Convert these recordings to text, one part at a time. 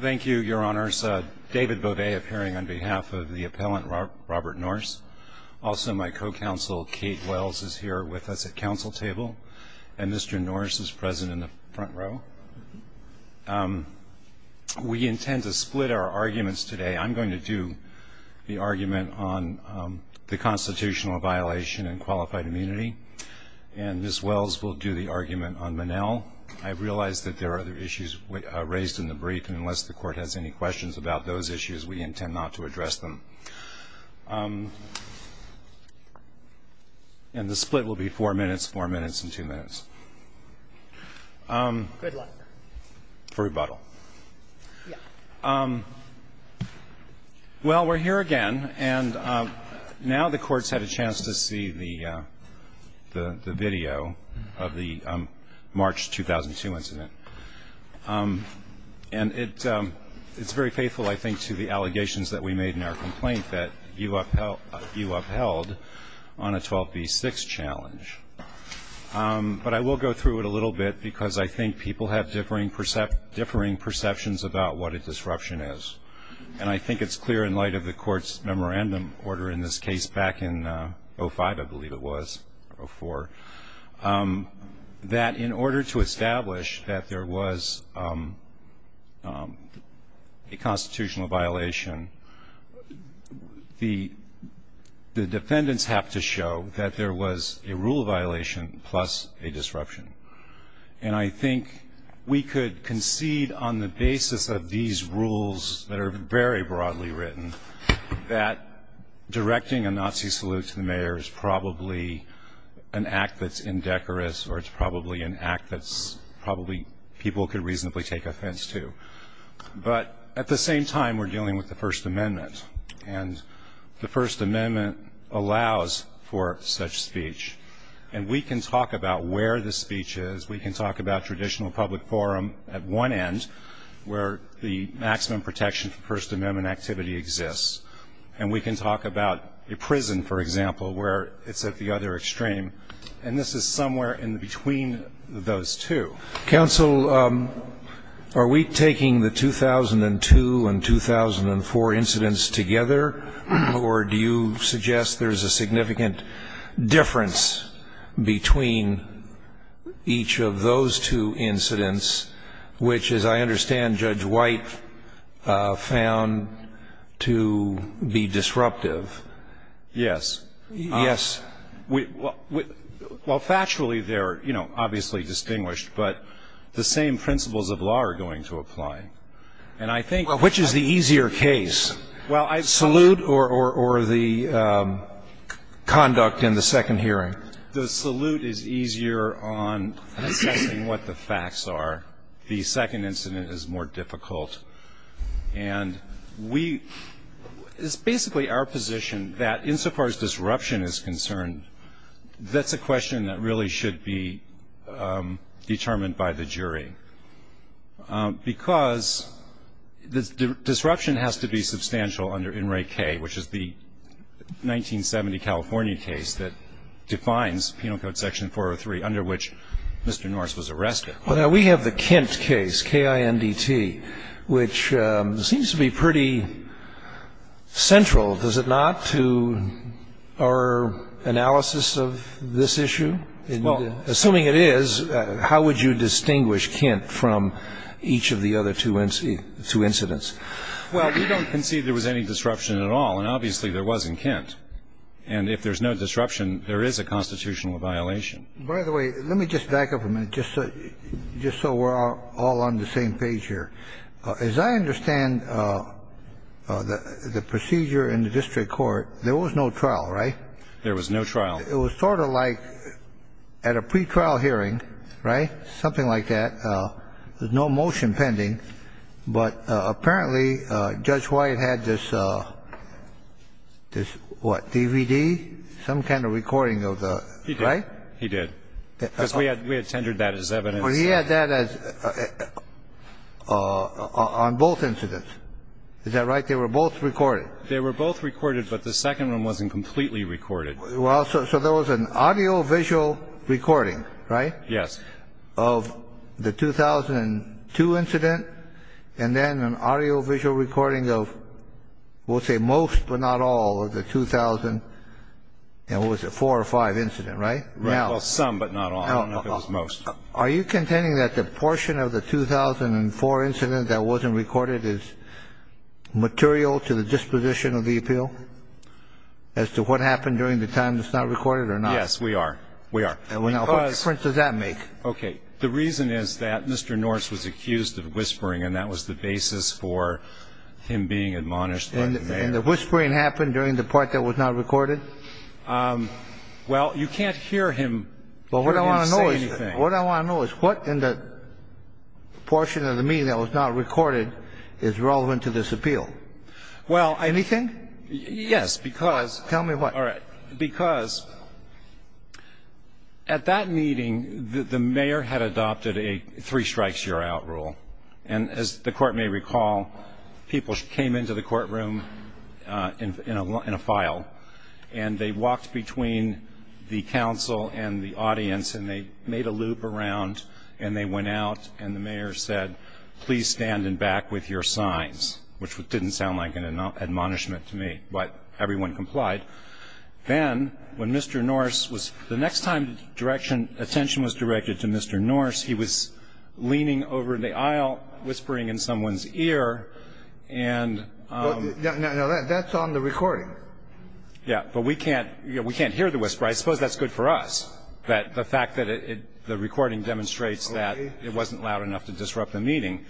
Thank you, Your Honors. David Beauvais appearing on behalf of the appellant Robert Norse. Also my co-counsel Kate Wells is here with us at council table and Mr. Norse is present in the front row. We intend to split our arguments today. I'm going to do the argument on the constitutional violation and qualified immunity and Ms. Wells will do the argument on Monell. I realize that there are other issues raised in the brief and unless the court has any questions about those issues, we intend not to address them. And the split will be four minutes, four minutes and two minutes for rebuttal. Well, we're here again and now the court's had a chance to see the video of the March 2002 incident. And it's very faithful, I think, to the allegations that we made in our complaint that you upheld on a 12b6 challenge. But I will go through it a little bit because I think people have differing perceptions about what a disruption is. And I think it's clear in light of the court's memorandum order in this case back in 05, I believe it was, or 04, that in order to establish that there was a constitutional violation, the defendants have to show that there was a rule violation plus a disruption. And I think we could concede on the basis of these rules that are very broadly written that directing a Nazi salute to the mayor is probably an act that's indecorous or it's probably an act that's probably people could reasonably take offense to. But at the same time we're dealing with the First Amendment and the First Amendment allows for such speech. And we can talk about where the speech is, we can talk about traditional public forum at one end where the maximum protection for First Amendment activity exists. And we can talk about a prison, for example, where it's at the other extreme. And this is somewhere in between those two. Counsel, are we taking the 2002 and 2004 incidents together or do you suggest there's a significant difference between each of those two incidents, which, as I understand, Judge White found to be disruptive? Yes. Yes. Well, factually they're, you know, obviously distinguished, but the same principles of law are going to apply. And I think Well, which is the easier case? Well, I salute or the conduct in the second hearing. The salute is easier on assessing what the facts are. The second incident is more difficult. And we, it's basically our position that insofar as disruption is concerned, that's a question that really should be determined by the jury. Because the disruption has to be substantial under In Re K, which is the 1970 California case that defines Penal Code Section 403, under which Mr. Norse was arrested. Well, now, we have the Kint case, K-I-N-D-T, which seems to be pretty central, does it not, to our analysis of this issue? Assuming it is, how would you distinguish Kint from each of the other two incidents? Well, we don't concede there was any disruption at all. And obviously there wasn't Kint. And if there's no disruption, there is a constitutional violation. By the way, let me just back up a minute, just so we're all on the same page here. As I understand the procedure in the district court, there was no trial, right? There was no trial. It was sort of like at a pretrial hearing, right, something like that, there's no motion pending, but apparently Judge White had this, what, DVD, some kind of recording of the, right? He did. Because we had tendered that as evidence. Well, he had that on both incidents. Is that right? They were both recorded. They were both recorded, but the second one wasn't completely recorded. Well, so there was an audiovisual recording, right? Yes. Of the 2002 incident, and then an audiovisual recording of, we'll say most but not all of the 2000, and was it four or five incidents, right? Well, some but not all. I don't know if it was most. Are you contending that the portion of the 2004 incident that wasn't recorded is relevant to this appeal? Well, I think that it's relevant to this appeal because we're trying to get an opinion on what happened during the time that's not recorded or not. Yes, we are. We are. And what difference does that make? Okay. The reason is that Mr. Norris was accused of whispering and that was the basis for him being admonished by the mayor. And the whispering happened during the part that was not recorded? Well, you can't hear him say anything. What I want to know is what in the portion of the meeting that was not recorded is relevant to this appeal? Well, I... Anything? Yes, because... Tell me what. All right. Because at that meeting, the mayor had adopted a three strikes you're out rule. And as the court may recall, people came into the courtroom in a file and they talked between the counsel and the audience and they made a loop around and they went out and the mayor said, please stand and back with your signs, which didn't sound like an admonishment to me, but everyone complied. Then when Mr. Norris was... The next time the attention was directed to Mr. Norris, he was leaning over the aisle whispering in someone's ear and... No, that's on the recording. Yeah, but we can't hear the whisper. I suppose that's good for us, that the fact that the recording demonstrates that it wasn't loud enough to disrupt the meeting.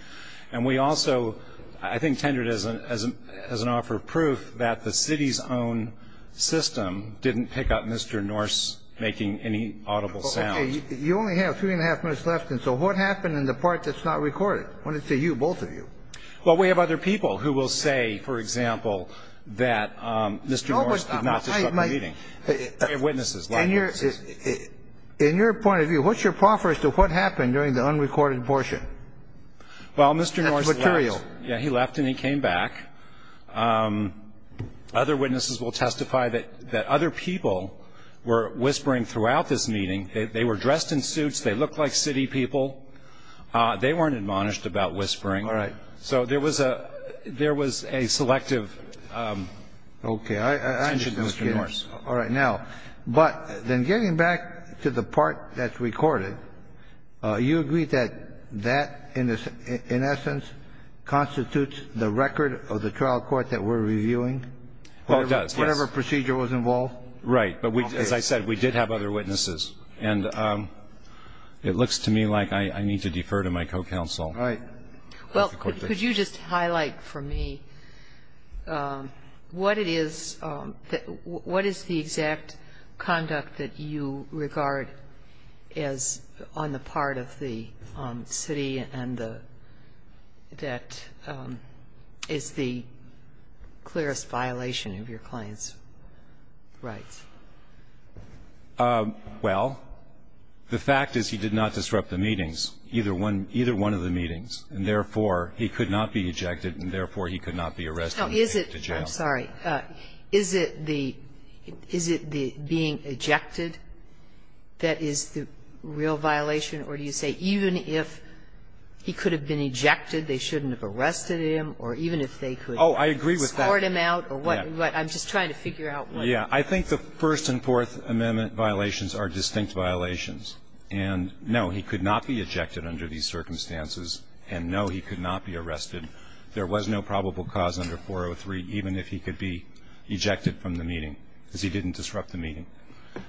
And we also, I think, tendered as an offer of proof that the city's own system didn't pick up Mr. Norris making any audible sound. You only have three and a half minutes left. And so what happened in the part that's not recorded? I want to see you, both of you. Well, we have other people who will say, for example, that Mr. Norris did not disrupt the meeting. We have witnesses. In your point of view, what's your proffer as to what happened during the unrecorded portion? That's material. Well, Mr. Norris left. Yeah, he left and he came back. Other witnesses will testify that other people were whispering throughout this meeting. They were dressed in suits. They looked like city people. They weren't admonished about whispering. All right. So there was a selective attention to Mr. Norris. Okay. I'm just kidding. All right. Now, but then getting back to the part that's recorded, you agree that that, in essence, constitutes the record of the trial court that we're reviewing? Oh, it does. Yes. Whatever procedure was involved? Right. Okay. But as I said, we did have other witnesses. And it looks to me like I need to defer to my co-counsel. Right. Well, could you just highlight for me what it is the exact conduct that you regard as on the part of the city and the debt is the clearest violation of your client's rights? Well, the fact is he did not disrupt the meetings. Either one of the meetings. And, therefore, he could not be ejected, and, therefore, he could not be arrested and taken to jail. I'm sorry. Is it the being ejected that is the real violation? Or do you say even if he could have been ejected, they shouldn't have arrested him? Or even if they could escort him out? Oh, I agree with that. Yeah. I'm just trying to figure out what you mean. Yeah. I think the First and Fourth Amendment violations are distinct violations. And, no, he could not be ejected under these circumstances. And, no, he could not be arrested. There was no probable cause under 403, even if he could be ejected from the meeting because he didn't disrupt the meeting.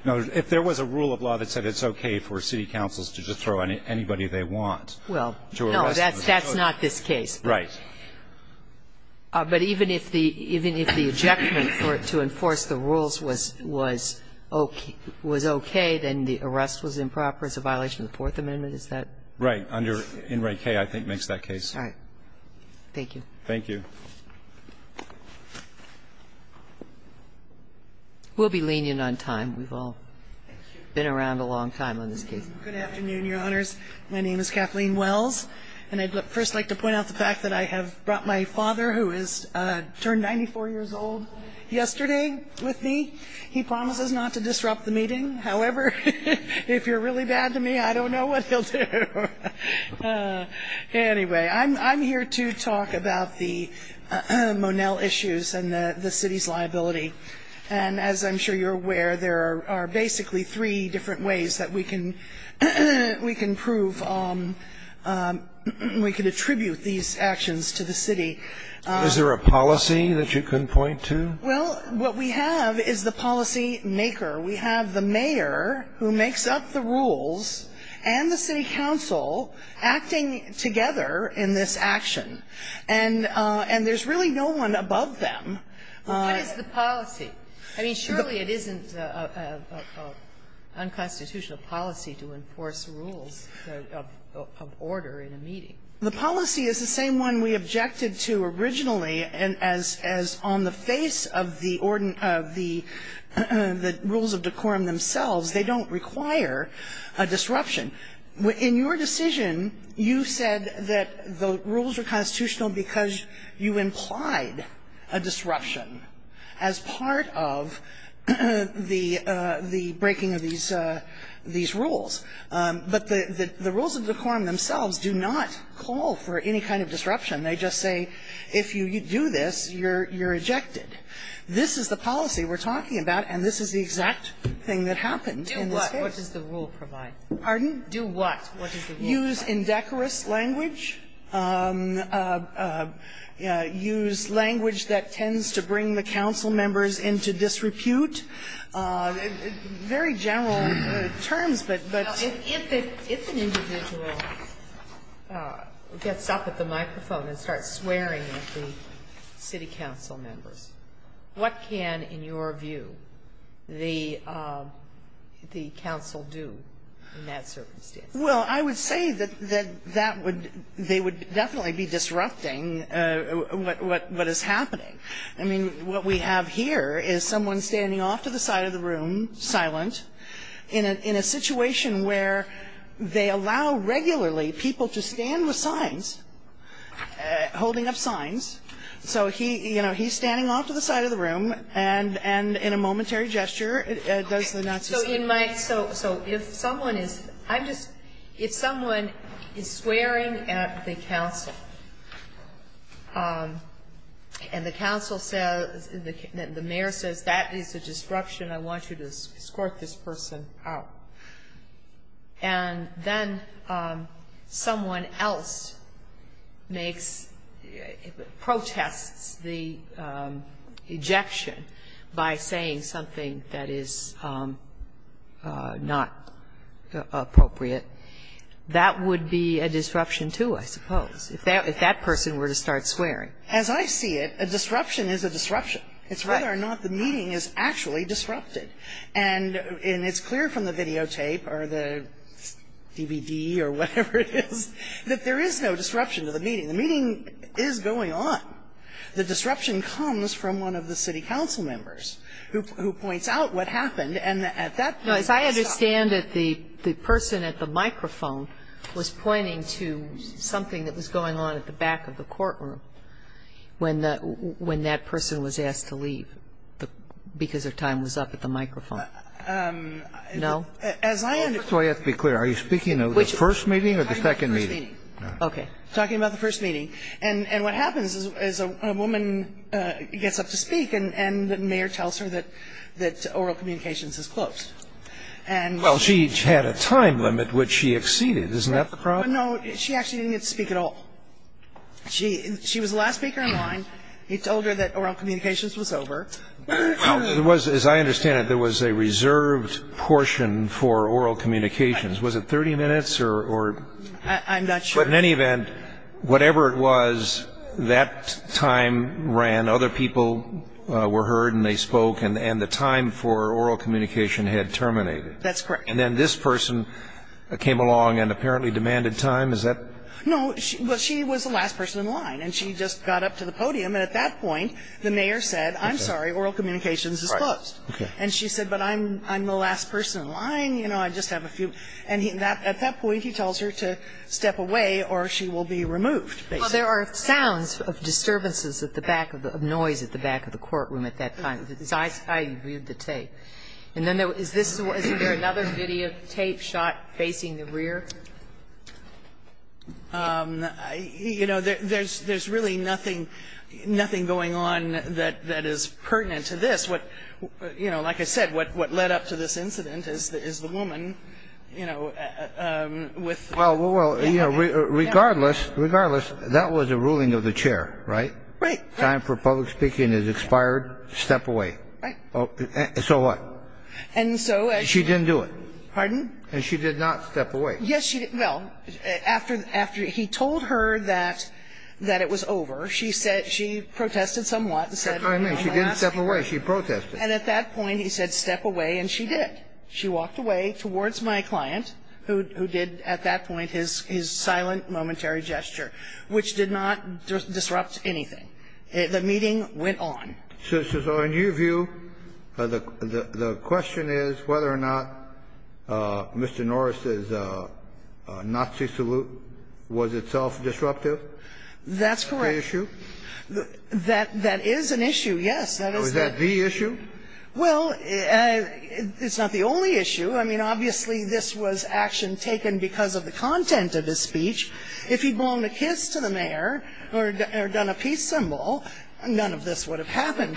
Now, if there was a rule of law that said it's okay for city councils to just throw anybody they want to arrest them. Well, no. That's not this case. Right. But even if the ejectment to enforce the rules was okay, then the arrest was improper. It's a violation of the Fourth Amendment. Is that? Right. Under In Re Cay, I think, makes that case. All right. Thank you. Thank you. We'll be lenient on time. We've all been around a long time on this case. Good afternoon, Your Honors. My name is Kathleen Wells. And I'd first like to point out the fact that I have brought my father, who has turned 94 years old, yesterday with me. He promises not to disrupt the meeting. However, if you're really bad to me, I don't know what he'll do. Anyway, I'm here to talk about the Monell issues and the city's liability. And as I'm sure you're aware, there are basically three different ways that we can prove, we can attribute these actions to the city. Is there a policy that you can point to? Well, what we have is the policymaker. We have the mayor, who makes up the rules, and the city council acting together in this action. And there's really no one above them. What is the policy? I mean, surely it isn't unconstitutional policy to enforce rules of order in a meeting. The policy is the same one we objected to originally, as on the face of the rules of decorum themselves. They don't require a disruption. In your decision, you said that the rules are constitutional because you implied a disruption. As part of the breaking of these rules. But the rules of decorum themselves do not call for any kind of disruption. They just say if you do this, you're ejected. This is the policy we're talking about, and this is the exact thing that happened in this case. Do what? What does the rule provide? Do what? What does the rule provide? Use indecorous language. Use language that tends to bring the council members into disrepute. Very general terms, but. If an individual gets up at the microphone and starts swearing at the city council members, what can, in your view, the council do in that circumstance? Well, I would say that they would definitely be disrupting what is happening. I mean, what we have here is someone standing off to the side of the room, silent, in a situation where they allow regularly people to stand with signs, holding up signs, so he's standing off to the side of the room, and in a momentary gesture does the Nazi. So if someone is swearing at the council, and the council says, the mayor says, that is a disruption, I want you to escort this person out, and then someone else makes, protests the ejection by saying something that is not appropriate, that would be a disruption, too, I suppose, if that person were to start swearing. As I see it, a disruption is a disruption. It's whether or not the meeting is actually disrupted. And it's clear from the videotape, or the DVD, or whatever it is, that there is no disruption to the meeting. The meeting is going on. The disruption comes from one of the city council members, who points out what happened, and at that point they stop. No, as I understand it, the person at the microphone was pointing to something that was going on at the back of the courtroom when that person was asked to leave because their time was up at the microphone. No? That's why you have to be clear. Are you speaking of the first meeting or the second meeting? Talking about the first meeting. And what happens is a woman gets up to speak, and the mayor tells her that oral communications is closed. Well, she had a time limit which she exceeded. Isn't that the problem? No, she actually didn't get to speak at all. She was the last speaker in line. He told her that oral communications was over. As I understand it, there was a reserved portion for oral communications. Was it 30 minutes or? I'm not sure. But in any event, whatever it was, that time ran. Other people were heard and they spoke, and the time for oral communication had terminated. That's correct. And then this person came along and apparently demanded time. Is that? No, she was the last person in line, and she just got up to the podium, and at that point, the mayor said, I'm sorry, oral communications is closed. Right. Okay. And she said, but I'm the last person in line. You know, I just have a few. And at that point, he tells her to step away or she will be removed, basically. Well, there are sounds of disturbances at the back of the room, of noise at the back of the courtroom at that time. I reviewed the tape. And then is this, is there another videotape shot facing the rear? You know, there's really nothing going on that is pertinent to this. You know, like I said, what led up to this incident is the woman, you know, with Well, regardless, that was a ruling of the chair, right? Right. Time for public speaking is expired. Step away. Right. So what? And so as you She didn't do it. Pardon? And she did not step away. Yes, she did. Well, after he told her that it was over, she protested somewhat and said, well, I'll ask her. She didn't step away. She protested. And at that point, he said, step away. And she did. She walked away towards my client, who did at that point his silent momentary gesture, which did not disrupt anything. The meeting went on. So in your view, the question is whether or not Mr. Norris's Nazi salute was itself disruptive? That's correct. That's the issue? That is an issue, yes. Was that the issue? Well, it's not the only issue. I mean, obviously, this was action taken because of the content of his speech. If he'd blown a kiss to the mayor or done a peace symbol, none of this would have happened.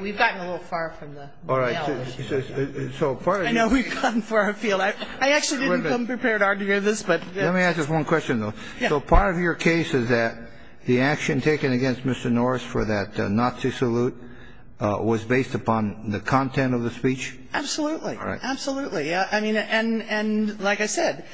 We've gotten a little far from the mail. I know we've gotten far afield. I actually didn't come prepared to argue this. Let me ask just one question, though. So part of your case is that the action taken against Mr. Norris for that Nazi salute was based upon the content of the speech? Absolutely. Absolutely. And like I said,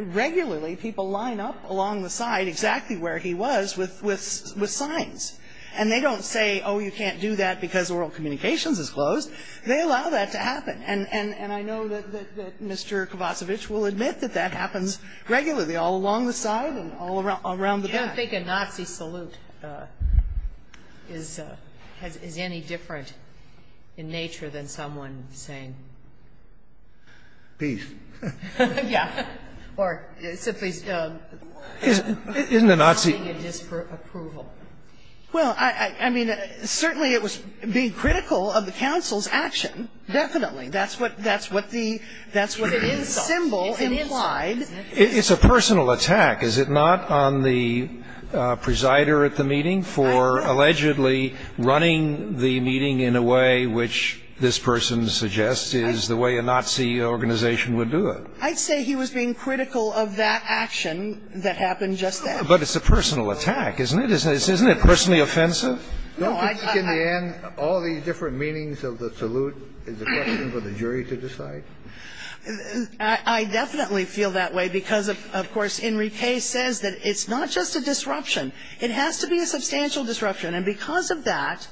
regularly people line up along the side exactly where he was with signs. And they don't say, oh, you can't do that because oral communications is closed. They allow that to happen. And I know that Mr. Kovacevic will admit that that happens regularly, all along the side and all around the back. I don't think a Nazi salute is any different in nature than someone saying peace. Yeah. Or simply wanting a disapproval. Well, I mean, certainly it was being critical of the council's action, definitely. That's what the symbol implied. It's a personal attack. Is it not on the presider at the meeting for allegedly running the meeting in a way which this person suggests is the way a Nazi organization would do it? I'd say he was being critical of that action that happened just then. But it's a personal attack, isn't it? Isn't it personally offensive? Don't you think in the end all these different meanings of the salute is a question for the jury to decide? I definitely feel that way because, of course, Enrique says that it's not just a disruption. It has to be a substantial disruption. And because of that,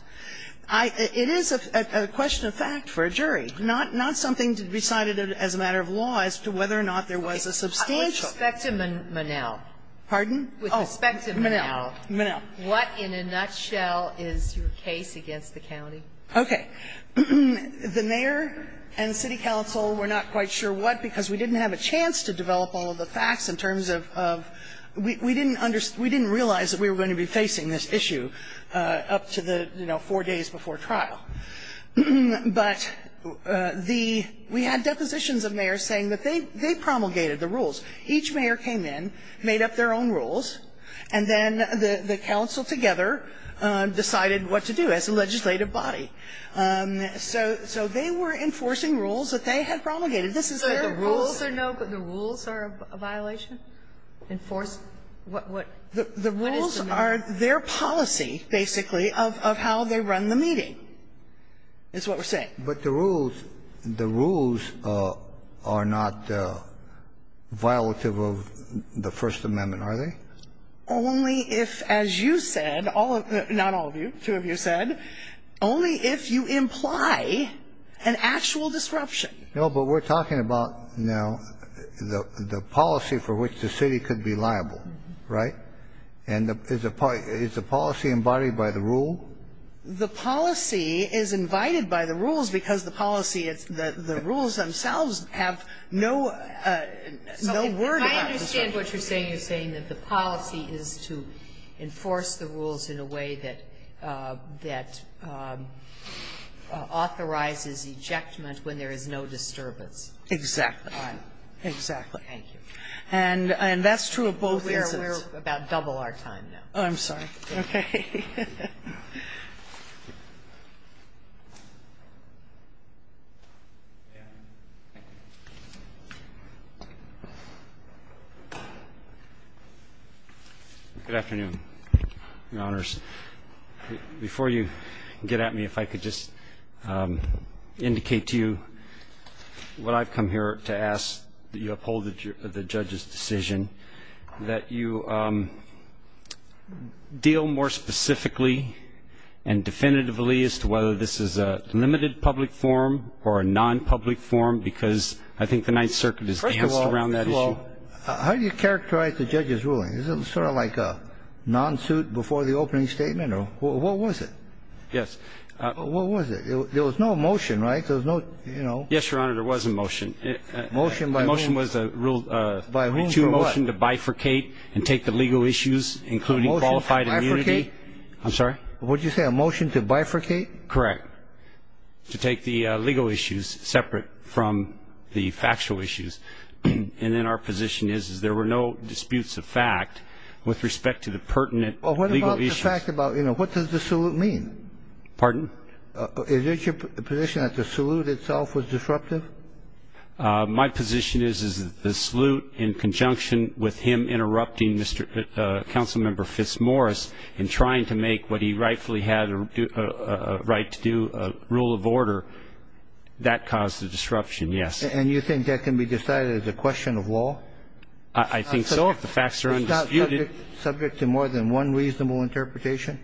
it is a question of fact for a jury, not something decided as a matter of law as to whether or not there was a substantial. With respect to Monell. Pardon? With respect to Monell. Monell. What, in a nutshell, is your case against the county? Okay. The mayor and city council were not quite sure what because we didn't have a chance to develop all of the facts in terms of we didn't realize that we were going to be facing this issue up to the, you know, four days before trial. And so what we did was each mayor came in, made up their own rules, and then the council together decided what to do as a legislative body. So they were enforcing rules that they had promulgated. This is their rules. So the rules are no, but the rules are a violation? Enforce what is the rule? The rules are their policy, basically, of how they run the meeting is what we're saying. But the rules, the rules are not violative of the First Amendment, are they? Only if, as you said, not all of you, two of you said, only if you imply an actual disruption. No, but we're talking about now the policy for which the city could be liable, right? And is the policy invited by the rule? The policy is invited by the rules because the policy, the rules themselves have no, no word about the disruption. I understand what you're saying. You're saying that the policy is to enforce the rules in a way that authorizes ejectment when there is no disturbance. Exactly. Exactly. Thank you. And that's true of both instances. We're about double our time now. Oh, I'm sorry. Okay. Good afternoon, Your Honors. Before you get at me, if I could just indicate to you what I've come here to ask, that you uphold the judge's decision, that you deal more specifically and definitively as to whether this is a limited public forum or a non-public forum, because I think the Ninth Circuit has danced around that issue. First of all, how do you characterize the judge's ruling? Is it sort of like a non-suit before the opening statement, or what was it? Yes. What was it? There was no motion, right? There was no, you know. Yes, Your Honor, there was a motion. Motion by whom? The motion was a rule. By whom for what? To motion to bifurcate and take the legal issues, including qualified immunity. A motion to bifurcate? I'm sorry? What did you say, a motion to bifurcate? Correct. To take the legal issues separate from the factual issues. And then our position is, is there were no disputes of fact with respect to the pertinent legal issues. Well, what about the fact about, you know, what does the salute mean? Pardon? Is it your position that the salute itself was disruptive? My position is, is that the salute in conjunction with him interrupting Councilmember Fitzmaurice in trying to make what he rightfully had a right to do a rule of order, that caused the disruption, yes. And you think that can be decided as a question of law? I think so, if the facts are undisputed. Is that subject to more than one reasonable interpretation?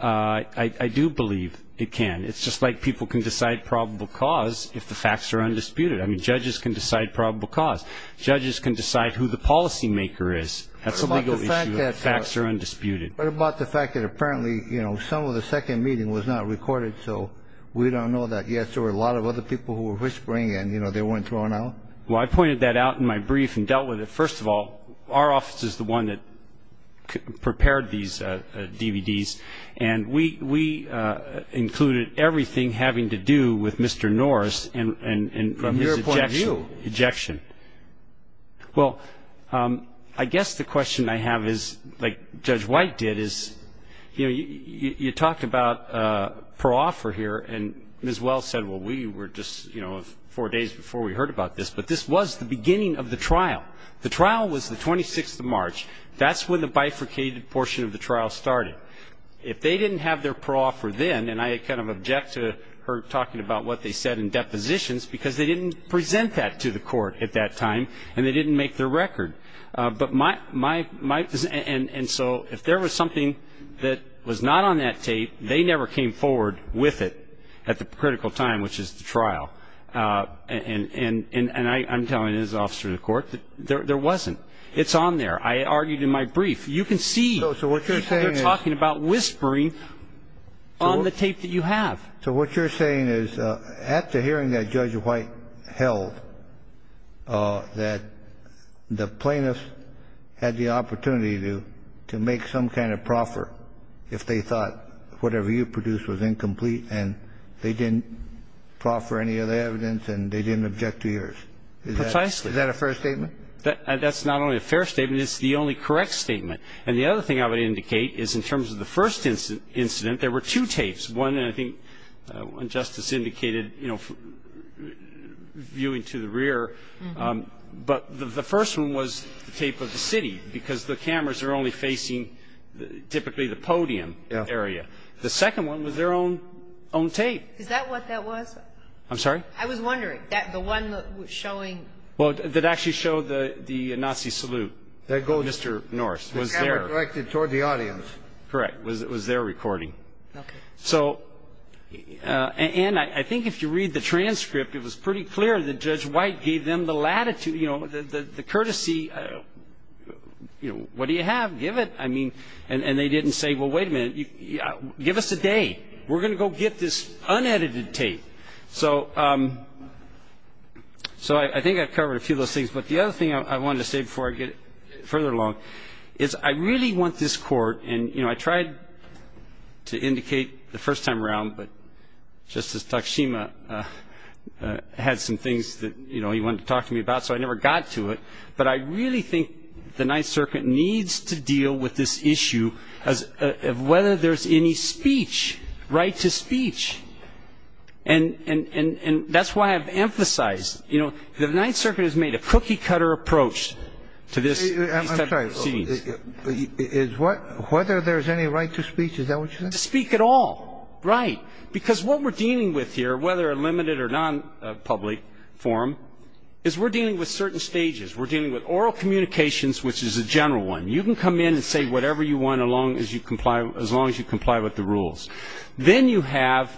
I do believe it can. It's just like people can decide probable cause if the facts are undisputed. I mean, judges can decide probable cause. Judges can decide who the policymaker is. That's a legal issue if the facts are undisputed. What about the fact that apparently, you know, some of the second meeting was not recorded, so we don't know that, yes, there were a lot of other people who were whispering and, you know, they weren't thrown out? Well, I pointed that out in my brief and dealt with it. First of all, our office is the one that prepared these DVDs, and we included everything having to do with Mr. Norris and his ejection. From your point of view. Well, I guess the question I have is, like Judge White did, is, you know, you talked about pro-offer here, and Ms. Wells said, well, we were just, you know, four days before we heard about this, but this was the beginning of the trial. The trial was the 26th of March. That's when the bifurcated portion of the trial started. If they didn't have their pro-offer then, and I kind of object to her talking about what they said in depositions because they didn't present that to the court at that time, and they didn't make their record. And so if there was something that was not on that tape, they never came forward with it at the critical time, which is the trial. And I'm telling you as an officer of the court, there wasn't. It's on there. I argued in my brief. You can see they're talking about whispering on the tape that you have. So what you're saying is, after hearing that Judge White held, that the plaintiffs had the opportunity to make some kind of proffer if they thought whatever you produced was incomplete and they didn't proffer any other evidence and they didn't object to yours. Precisely. Is that a fair statement? That's not only a fair statement. It's the only correct statement. And the other thing I would indicate is in terms of the first incident, there were two tapes. One, I think Justice indicated, you know, viewing to the rear, but the first one was the tape of the city because the cameras are only facing typically the podium area. The second one was their own tape. Is that what that was? I'm sorry? I was wondering. The one that was showing. Well, that actually showed the Nazi salute. That gold. Mr. Norris. Was there. It was directed toward the audience. Correct. It was their recording. Okay. So, and I think if you read the transcript, it was pretty clear that Judge White gave them the latitude, you know, the courtesy, you know, what do you have? Give it. I mean, and they didn't say, well, wait a minute, give us a day. We're going to go get this unedited tape. So I think I've covered a few of those things. But the other thing I wanted to say before I get further along is I really want this court, and, you know, I tried to indicate the first time around, but Justice Takashima had some things that, you know, he wanted to talk to me about, so I never got to it. But I really think the Ninth Circuit needs to deal with this issue of whether there's any speech, right to speech. And that's why I've emphasized, you know, the Ninth Circuit has made a cookie-cutter approach to this type of proceedings. I'm sorry. Whether there's any right to speech, is that what you're saying? To speak at all. Right. Because what we're dealing with here, whether a limited or non-public forum, is we're dealing with certain stages. We're dealing with oral communications, which is a general one. You can come in and say whatever you want as long as you comply with the rules. Then you have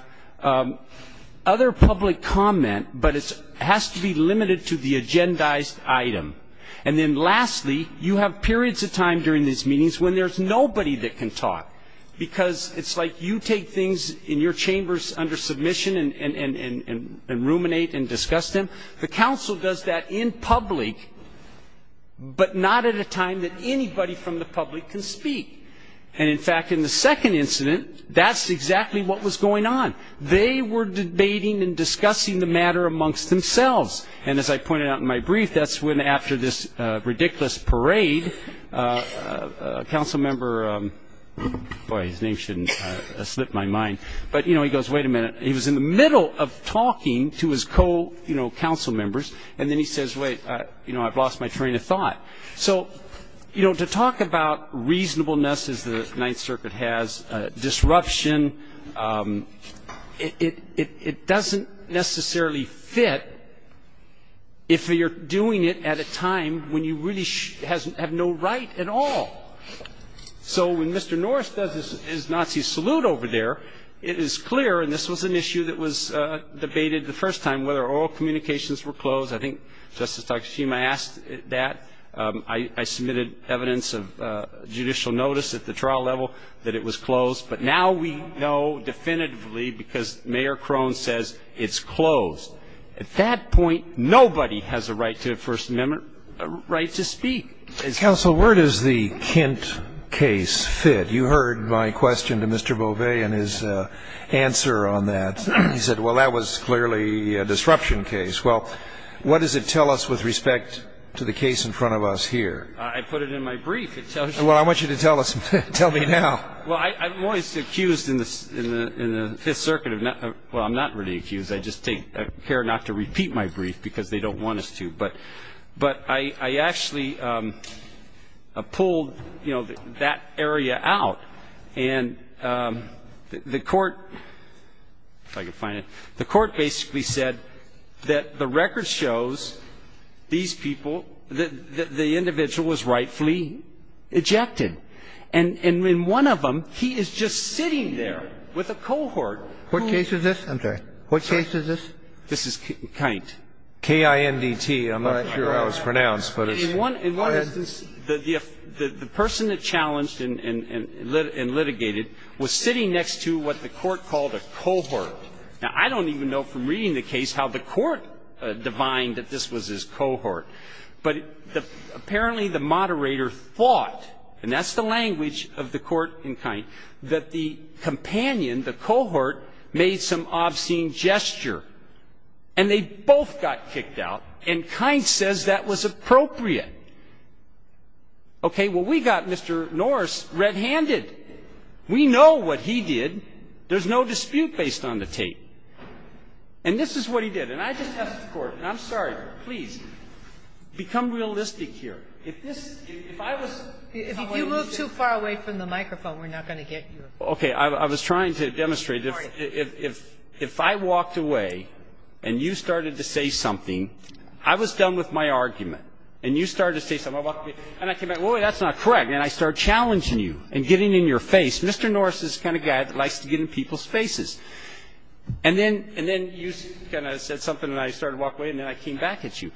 other public comment, but it has to be limited to the agendized item. And then lastly, you have periods of time during these meetings when there's nobody that can talk, because it's like you take things in your chambers under submission and ruminate and discuss them. The council does that in public, but not at a time that anybody from the public can speak. And, in fact, in the second incident, that's exactly what was going on. They were debating and discussing the matter amongst themselves. And as I pointed out in my brief, that's when after this ridiculous parade, a council member, boy, his name shouldn't slip my mind, but, you know, he goes, wait a minute. He was in the middle of talking to his co-council members, and then he says, wait, you know, I've lost my train of thought. So, you know, to talk about reasonableness, as the Ninth Circuit has, disruption, it doesn't necessarily fit if you're doing it at a time when you really have no right at all. So when Mr. Norris does his Nazi salute over there, it is clear, and this was an issue that was debated the first time, whether all communications were closed. I think Justice Takashima asked that. I submitted evidence of judicial notice at the trial level that it was closed, but now we know definitively because Mayor Crone says it's closed. At that point, nobody has a right to First Amendment right to speak. Counsel, where does the Kint case fit? You heard my question to Mr. Beauvais and his answer on that. He said, well, that was clearly a disruption case. Well, what does it tell us with respect to the case in front of us here? I put it in my brief. Well, I want you to tell us. Tell me now. Well, I'm always accused in the Fifth Circuit of not ñ well, I'm not really accused. I just care not to repeat my brief because they don't want us to. But I actually pulled, you know, that area out. And the Court basically said that the record shows these people, the individual was rightfully ejected. And in one of them, he is just sitting there with a cohort. What case is this? I'm sorry. What case is this? This is Kint. K-I-N-T. I'm not sure how it's pronounced. Go ahead. In one instance, the person that challenged and litigated was sitting next to what the Court called a cohort. Now, I don't even know from reading the case how the Court divined that this was his cohort. But apparently the moderator thought, and that's the language of the court in Kint, that the companion, the cohort, made some obscene gesture. And they both got kicked out, and Kint says that was appropriate. Okay. Well, we got Mr. Norris red-handed. We know what he did. There's no dispute based on the tape. And this is what he did. And I just asked the Court, and I'm sorry, please, become realistic here. If this ñ if I was ñ If you move too far away from the microphone, we're not going to get you. Okay. I was trying to demonstrate. If I walked away and you started to say something, I was done with my argument. And you started to say something. And I came back, wait, wait, that's not correct. And I started challenging you and getting in your face. Mr. Norris is the kind of guy that likes to get in people's faces. And then you kind of said something, and I started to walk away, and then I came back at you.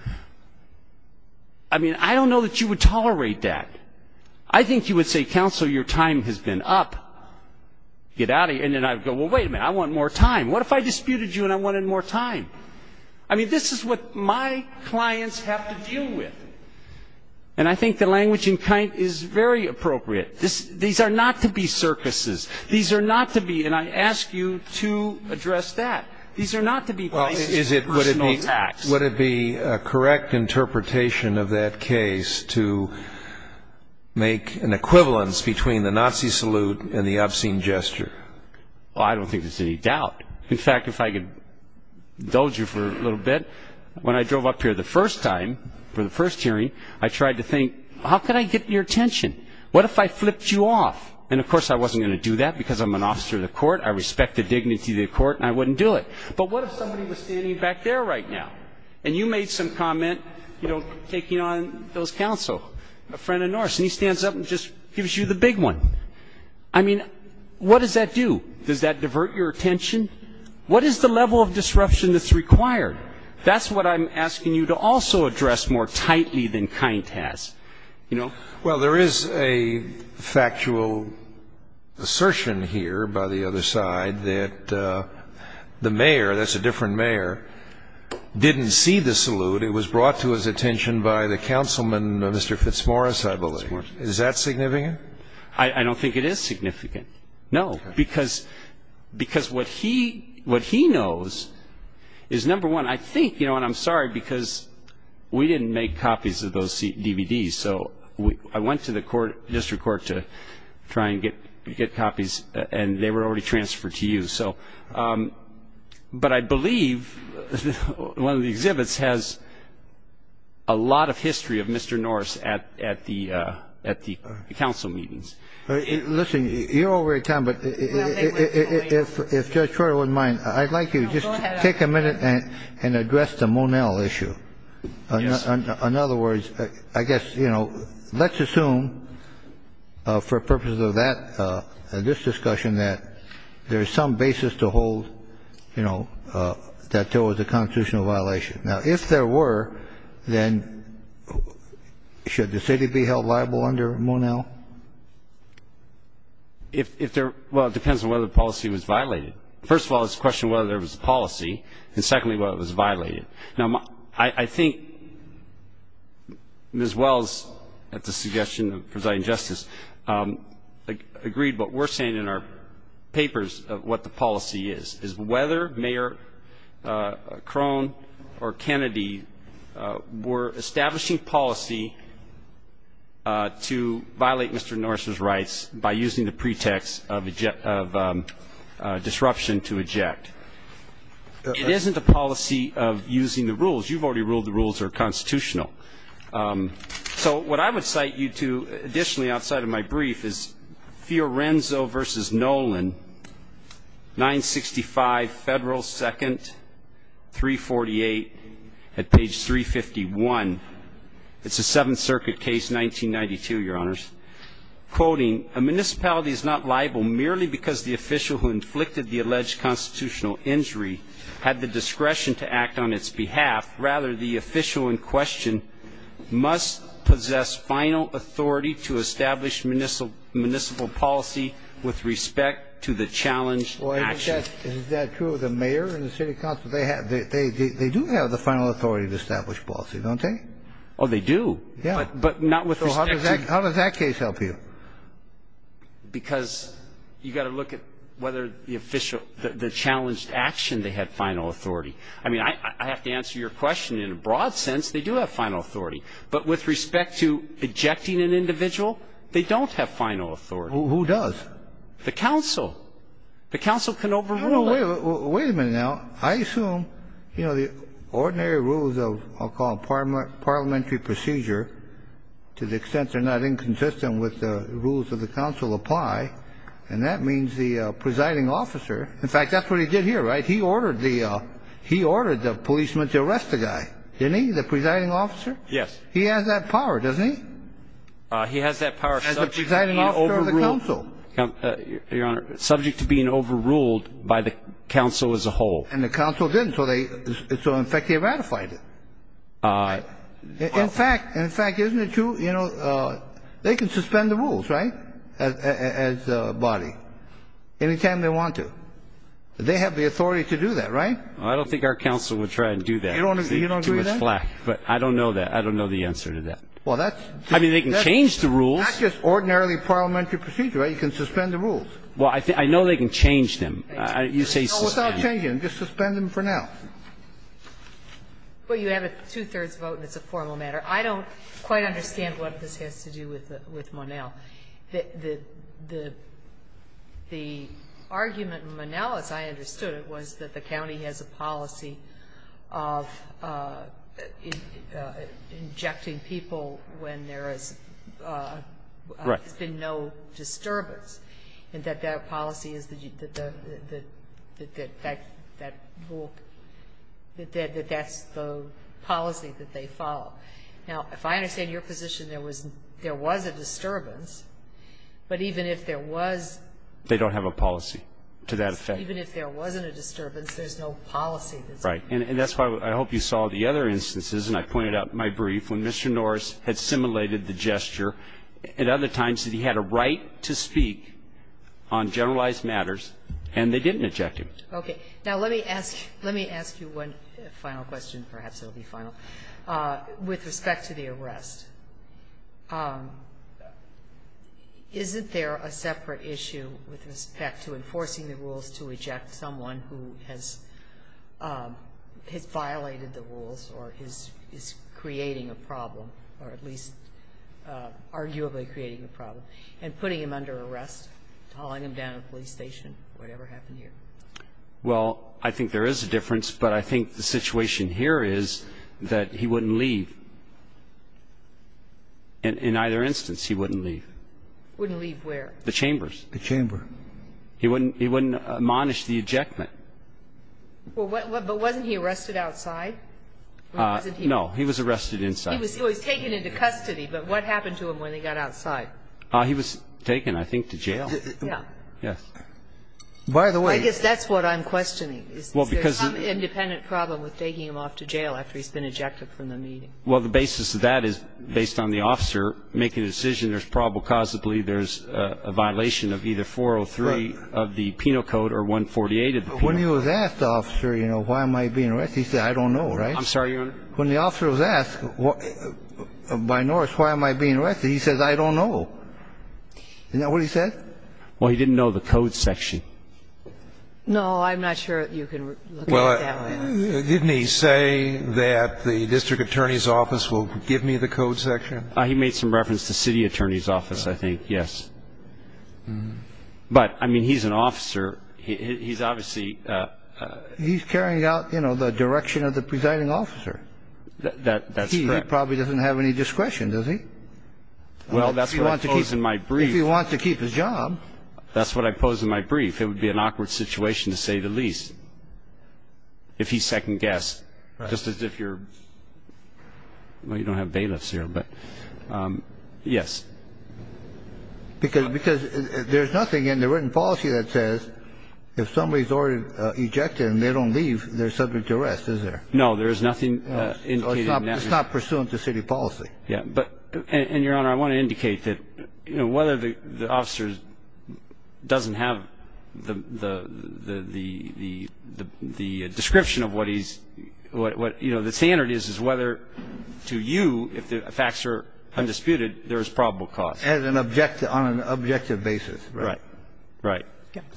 I mean, I don't know that you would tolerate that. I think you would say, Counsel, your time has been up. Get out of here. And then I would go, well, wait a minute, I want more time. What if I disputed you and I wanted more time? I mean, this is what my clients have to deal with. And I think the language in kind is very appropriate. These are not to be circuses. These are not to be ñ and I ask you to address that. These are not to be personal attacks. Would it be a correct interpretation of that case to make an equivalence between the Nazi salute and the obscene gesture? Well, I don't think there's any doubt. In fact, if I could indulge you for a little bit, when I drove up here the first time for the first hearing, I tried to think, how could I get your attention? What if I flipped you off? And, of course, I wasn't going to do that because I'm an officer of the court, I respect the dignity of the court, and I wouldn't do it. But what if somebody was standing back there right now and you made some comment, you know, taking on those counsel, a friend of Norris, and he stands up and just gives you the big one? I mean, what does that do? Does that divert your attention? What is the level of disruption that's required? That's what I'm asking you to also address more tightly than kind has. Well, there is a factual assertion here by the other side that the mayor, that's a different mayor, didn't see the salute. It was brought to his attention by the councilman, Mr. Fitzmaurice, I believe. Is that significant? I don't think it is significant, no, because what he knows is, number one, I think, you know, number one, I'm sorry because we didn't make copies of those DVDs. So I went to the district court to try and get copies, and they were already transferred to you. But I believe one of the exhibits has a lot of history of Mr. Norris at the council meetings. Listen, you're over your time, but if Judge Troy wouldn't mind, I'd like you to just take a minute and address the Monell issue. Yes. In other words, I guess, you know, let's assume for purposes of that, this discussion, that there is some basis to hold, you know, that there was a constitutional violation. Now, if there were, then should the city be held liable under Monell? Well, it depends on whether the policy was violated. First of all, it's a question of whether there was a policy, and secondly, whether it was violated. Now, I think Ms. Wells, at the suggestion of Presiding Justice, agreed what we're saying in our papers, what the policy is, is whether Mayor Crone or Kennedy were establishing policy to violate Mr. Norris's rights by using the pretext of disruption to eject. It isn't a policy of using the rules. You've already ruled the rules are constitutional. So what I would cite you to, additionally, outside of my brief, is Fiorenzo v. Nolan, 965 Federal 2nd, 348, at page 351. It's a Seventh Circuit case, 1992, Your Honors. Quoting, a municipality is not liable merely because the official who inflicted the alleged constitutional injury had the discretion to act on its behalf. Rather, the official in question must possess final authority to establish municipal policy with respect to the challenged action. Well, isn't that true of the mayor and the city council? They do have the final authority to establish policy, don't they? Oh, they do. Yeah. But not with respect to. So how does that case help you? Because you've got to look at whether the official, the challenged action, they had final authority. I mean, I have to answer your question. In a broad sense, they do have final authority. But with respect to ejecting an individual, they don't have final authority. Who does? The council. The council can overrule that. Wait a minute now. I assume, you know, the ordinary rules of what I'll call parliamentary procedure, to the extent they're not inconsistent with the rules of the council, apply. And that means the presiding officer, in fact, that's what he did here, right? He ordered the policeman to arrest the guy, didn't he, the presiding officer? Yes. He has that power, doesn't he? He has that power subject to being overruled. The presiding officer of the council. Your Honor, subject to being overruled by the council as a whole. And the council didn't. So, in fact, they ratified it. In fact, isn't it true, you know, they can suspend the rules, right, as a body, anytime they want to. They have the authority to do that, right? I don't think our council would try to do that. You don't agree with that? Too much flack. But I don't know that. I don't know the answer to that. I mean, they can change the rules. Not just ordinarily parliamentary procedure, right? You can suspend the rules. Well, I know they can change them. You say suspend. No, without changing them. Just suspend them for now. Well, you have a two-thirds vote, and it's a formal matter. I don't quite understand what this has to do with Monell. The argument in Monell, as I understood it, was that the county has a policy of injecting people when there has been no disturbance. Right. And that that policy is that that rule, that that's the policy that they follow. Now, if I understand your position, there was a disturbance, but even if there was they don't have a policy to that effect. Even if there wasn't a disturbance, there's no policy. Right. And that's why I hope you saw the other instances, and I pointed out in my brief, when Mr. Norris had simulated the gesture at other times that he had a right to speak on generalized matters, and they didn't inject him. Okay. Now, let me ask you one final question. Perhaps it will be final. With respect to the arrest, isn't there a separate issue with respect to enforcing the rules to eject someone who has violated the rules or is creating a problem or at least arguably creating a problem, and putting him under arrest, hauling him down a police station, whatever happened here? Well, I think there is a difference, but I think the situation here is that he wouldn't leave. In either instance, he wouldn't leave. Wouldn't leave where? The chambers. The chamber. He wouldn't admonish the ejectment. But wasn't he arrested outside? No. He was arrested inside. He was taken into custody, but what happened to him when he got outside? He was taken, I think, to jail. Yes. By the way. I guess that's what I'm questioning. Is there some independent problem with taking him off to jail after he's been ejected from the meeting? Well, the basis of that is, based on the officer making a decision, there's probable I don't know, right? I'm sorry. When the officer was asked, by Norris, why am I being arrested, he says, I don't know. Isn't that what he said? Well, he didn't know the code section. No, I'm not sure you can look at it that way. Well, didn't he say that the district attorney's office will give me the code section? He made some reference to city attorney's office, I think, yes. But, I mean, he's an officer. He's obviously He's carrying out, you know, the direction of the presiding officer. That's correct. He probably doesn't have any discretion, does he? Well, that's what I pose in my brief. If he wants to keep his job. That's what I pose in my brief. It would be an awkward situation, to say the least, if he second-guessed, just as if you're Well, you don't have bailiffs here, but yes. Because there's nothing in the written policy that says if somebody's already ejected and they don't leave, they're subject to arrest, is there? No, there's nothing indicating that. It's not pursuant to city policy. And, Your Honor, I want to indicate that whether the officer doesn't have the description of what the standard is, is whether to you, if the facts are undisputed, there is probable cause. As an objective, on an objective basis. Right. Right.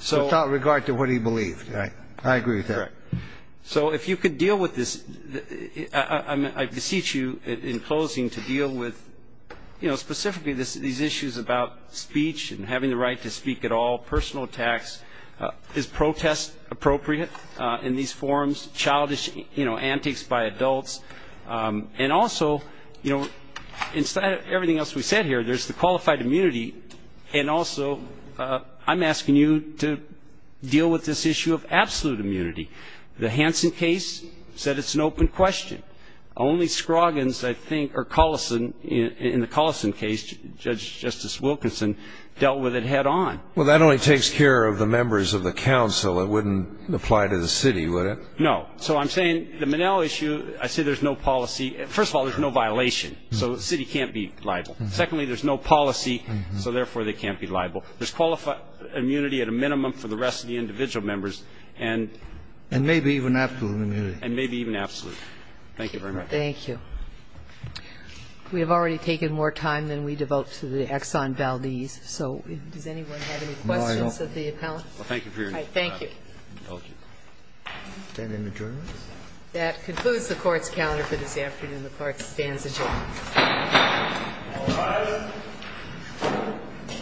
Without regard to what he believed. Right. I agree with that. Correct. So if you could deal with this, I beseech you in closing to deal with, you know, specifically these issues about speech and having the right to speak at all, personal attacks. Is protest appropriate in these forms? Childish, you know, antics by adults. And also, you know, instead of everything else we said here, there's the qualified immunity. And also, I'm asking you to deal with this issue of absolute immunity. The Hansen case said it's an open question. Only Scroggins, I think, or Collison, in the Collison case, Judge Justice Wilkinson, dealt with it head on. Well, that only takes care of the members of the council. It wouldn't apply to the city, would it? No. So I'm saying the Minnell issue, I say there's no policy. First of all, there's no violation. So the city can't be liable. Secondly, there's no policy, so therefore they can't be liable. There's qualified immunity at a minimum for the rest of the individual members. And maybe even absolute immunity. And maybe even absolute. Thank you very much. Thank you. We have already taken more time than we devote to the Exxon Valdez. So does anyone have any questions of the appellant? Thank you for your time. Thank you. Is there an adjournment? That concludes the Court's calendar for this afternoon. The Court stands adjourned.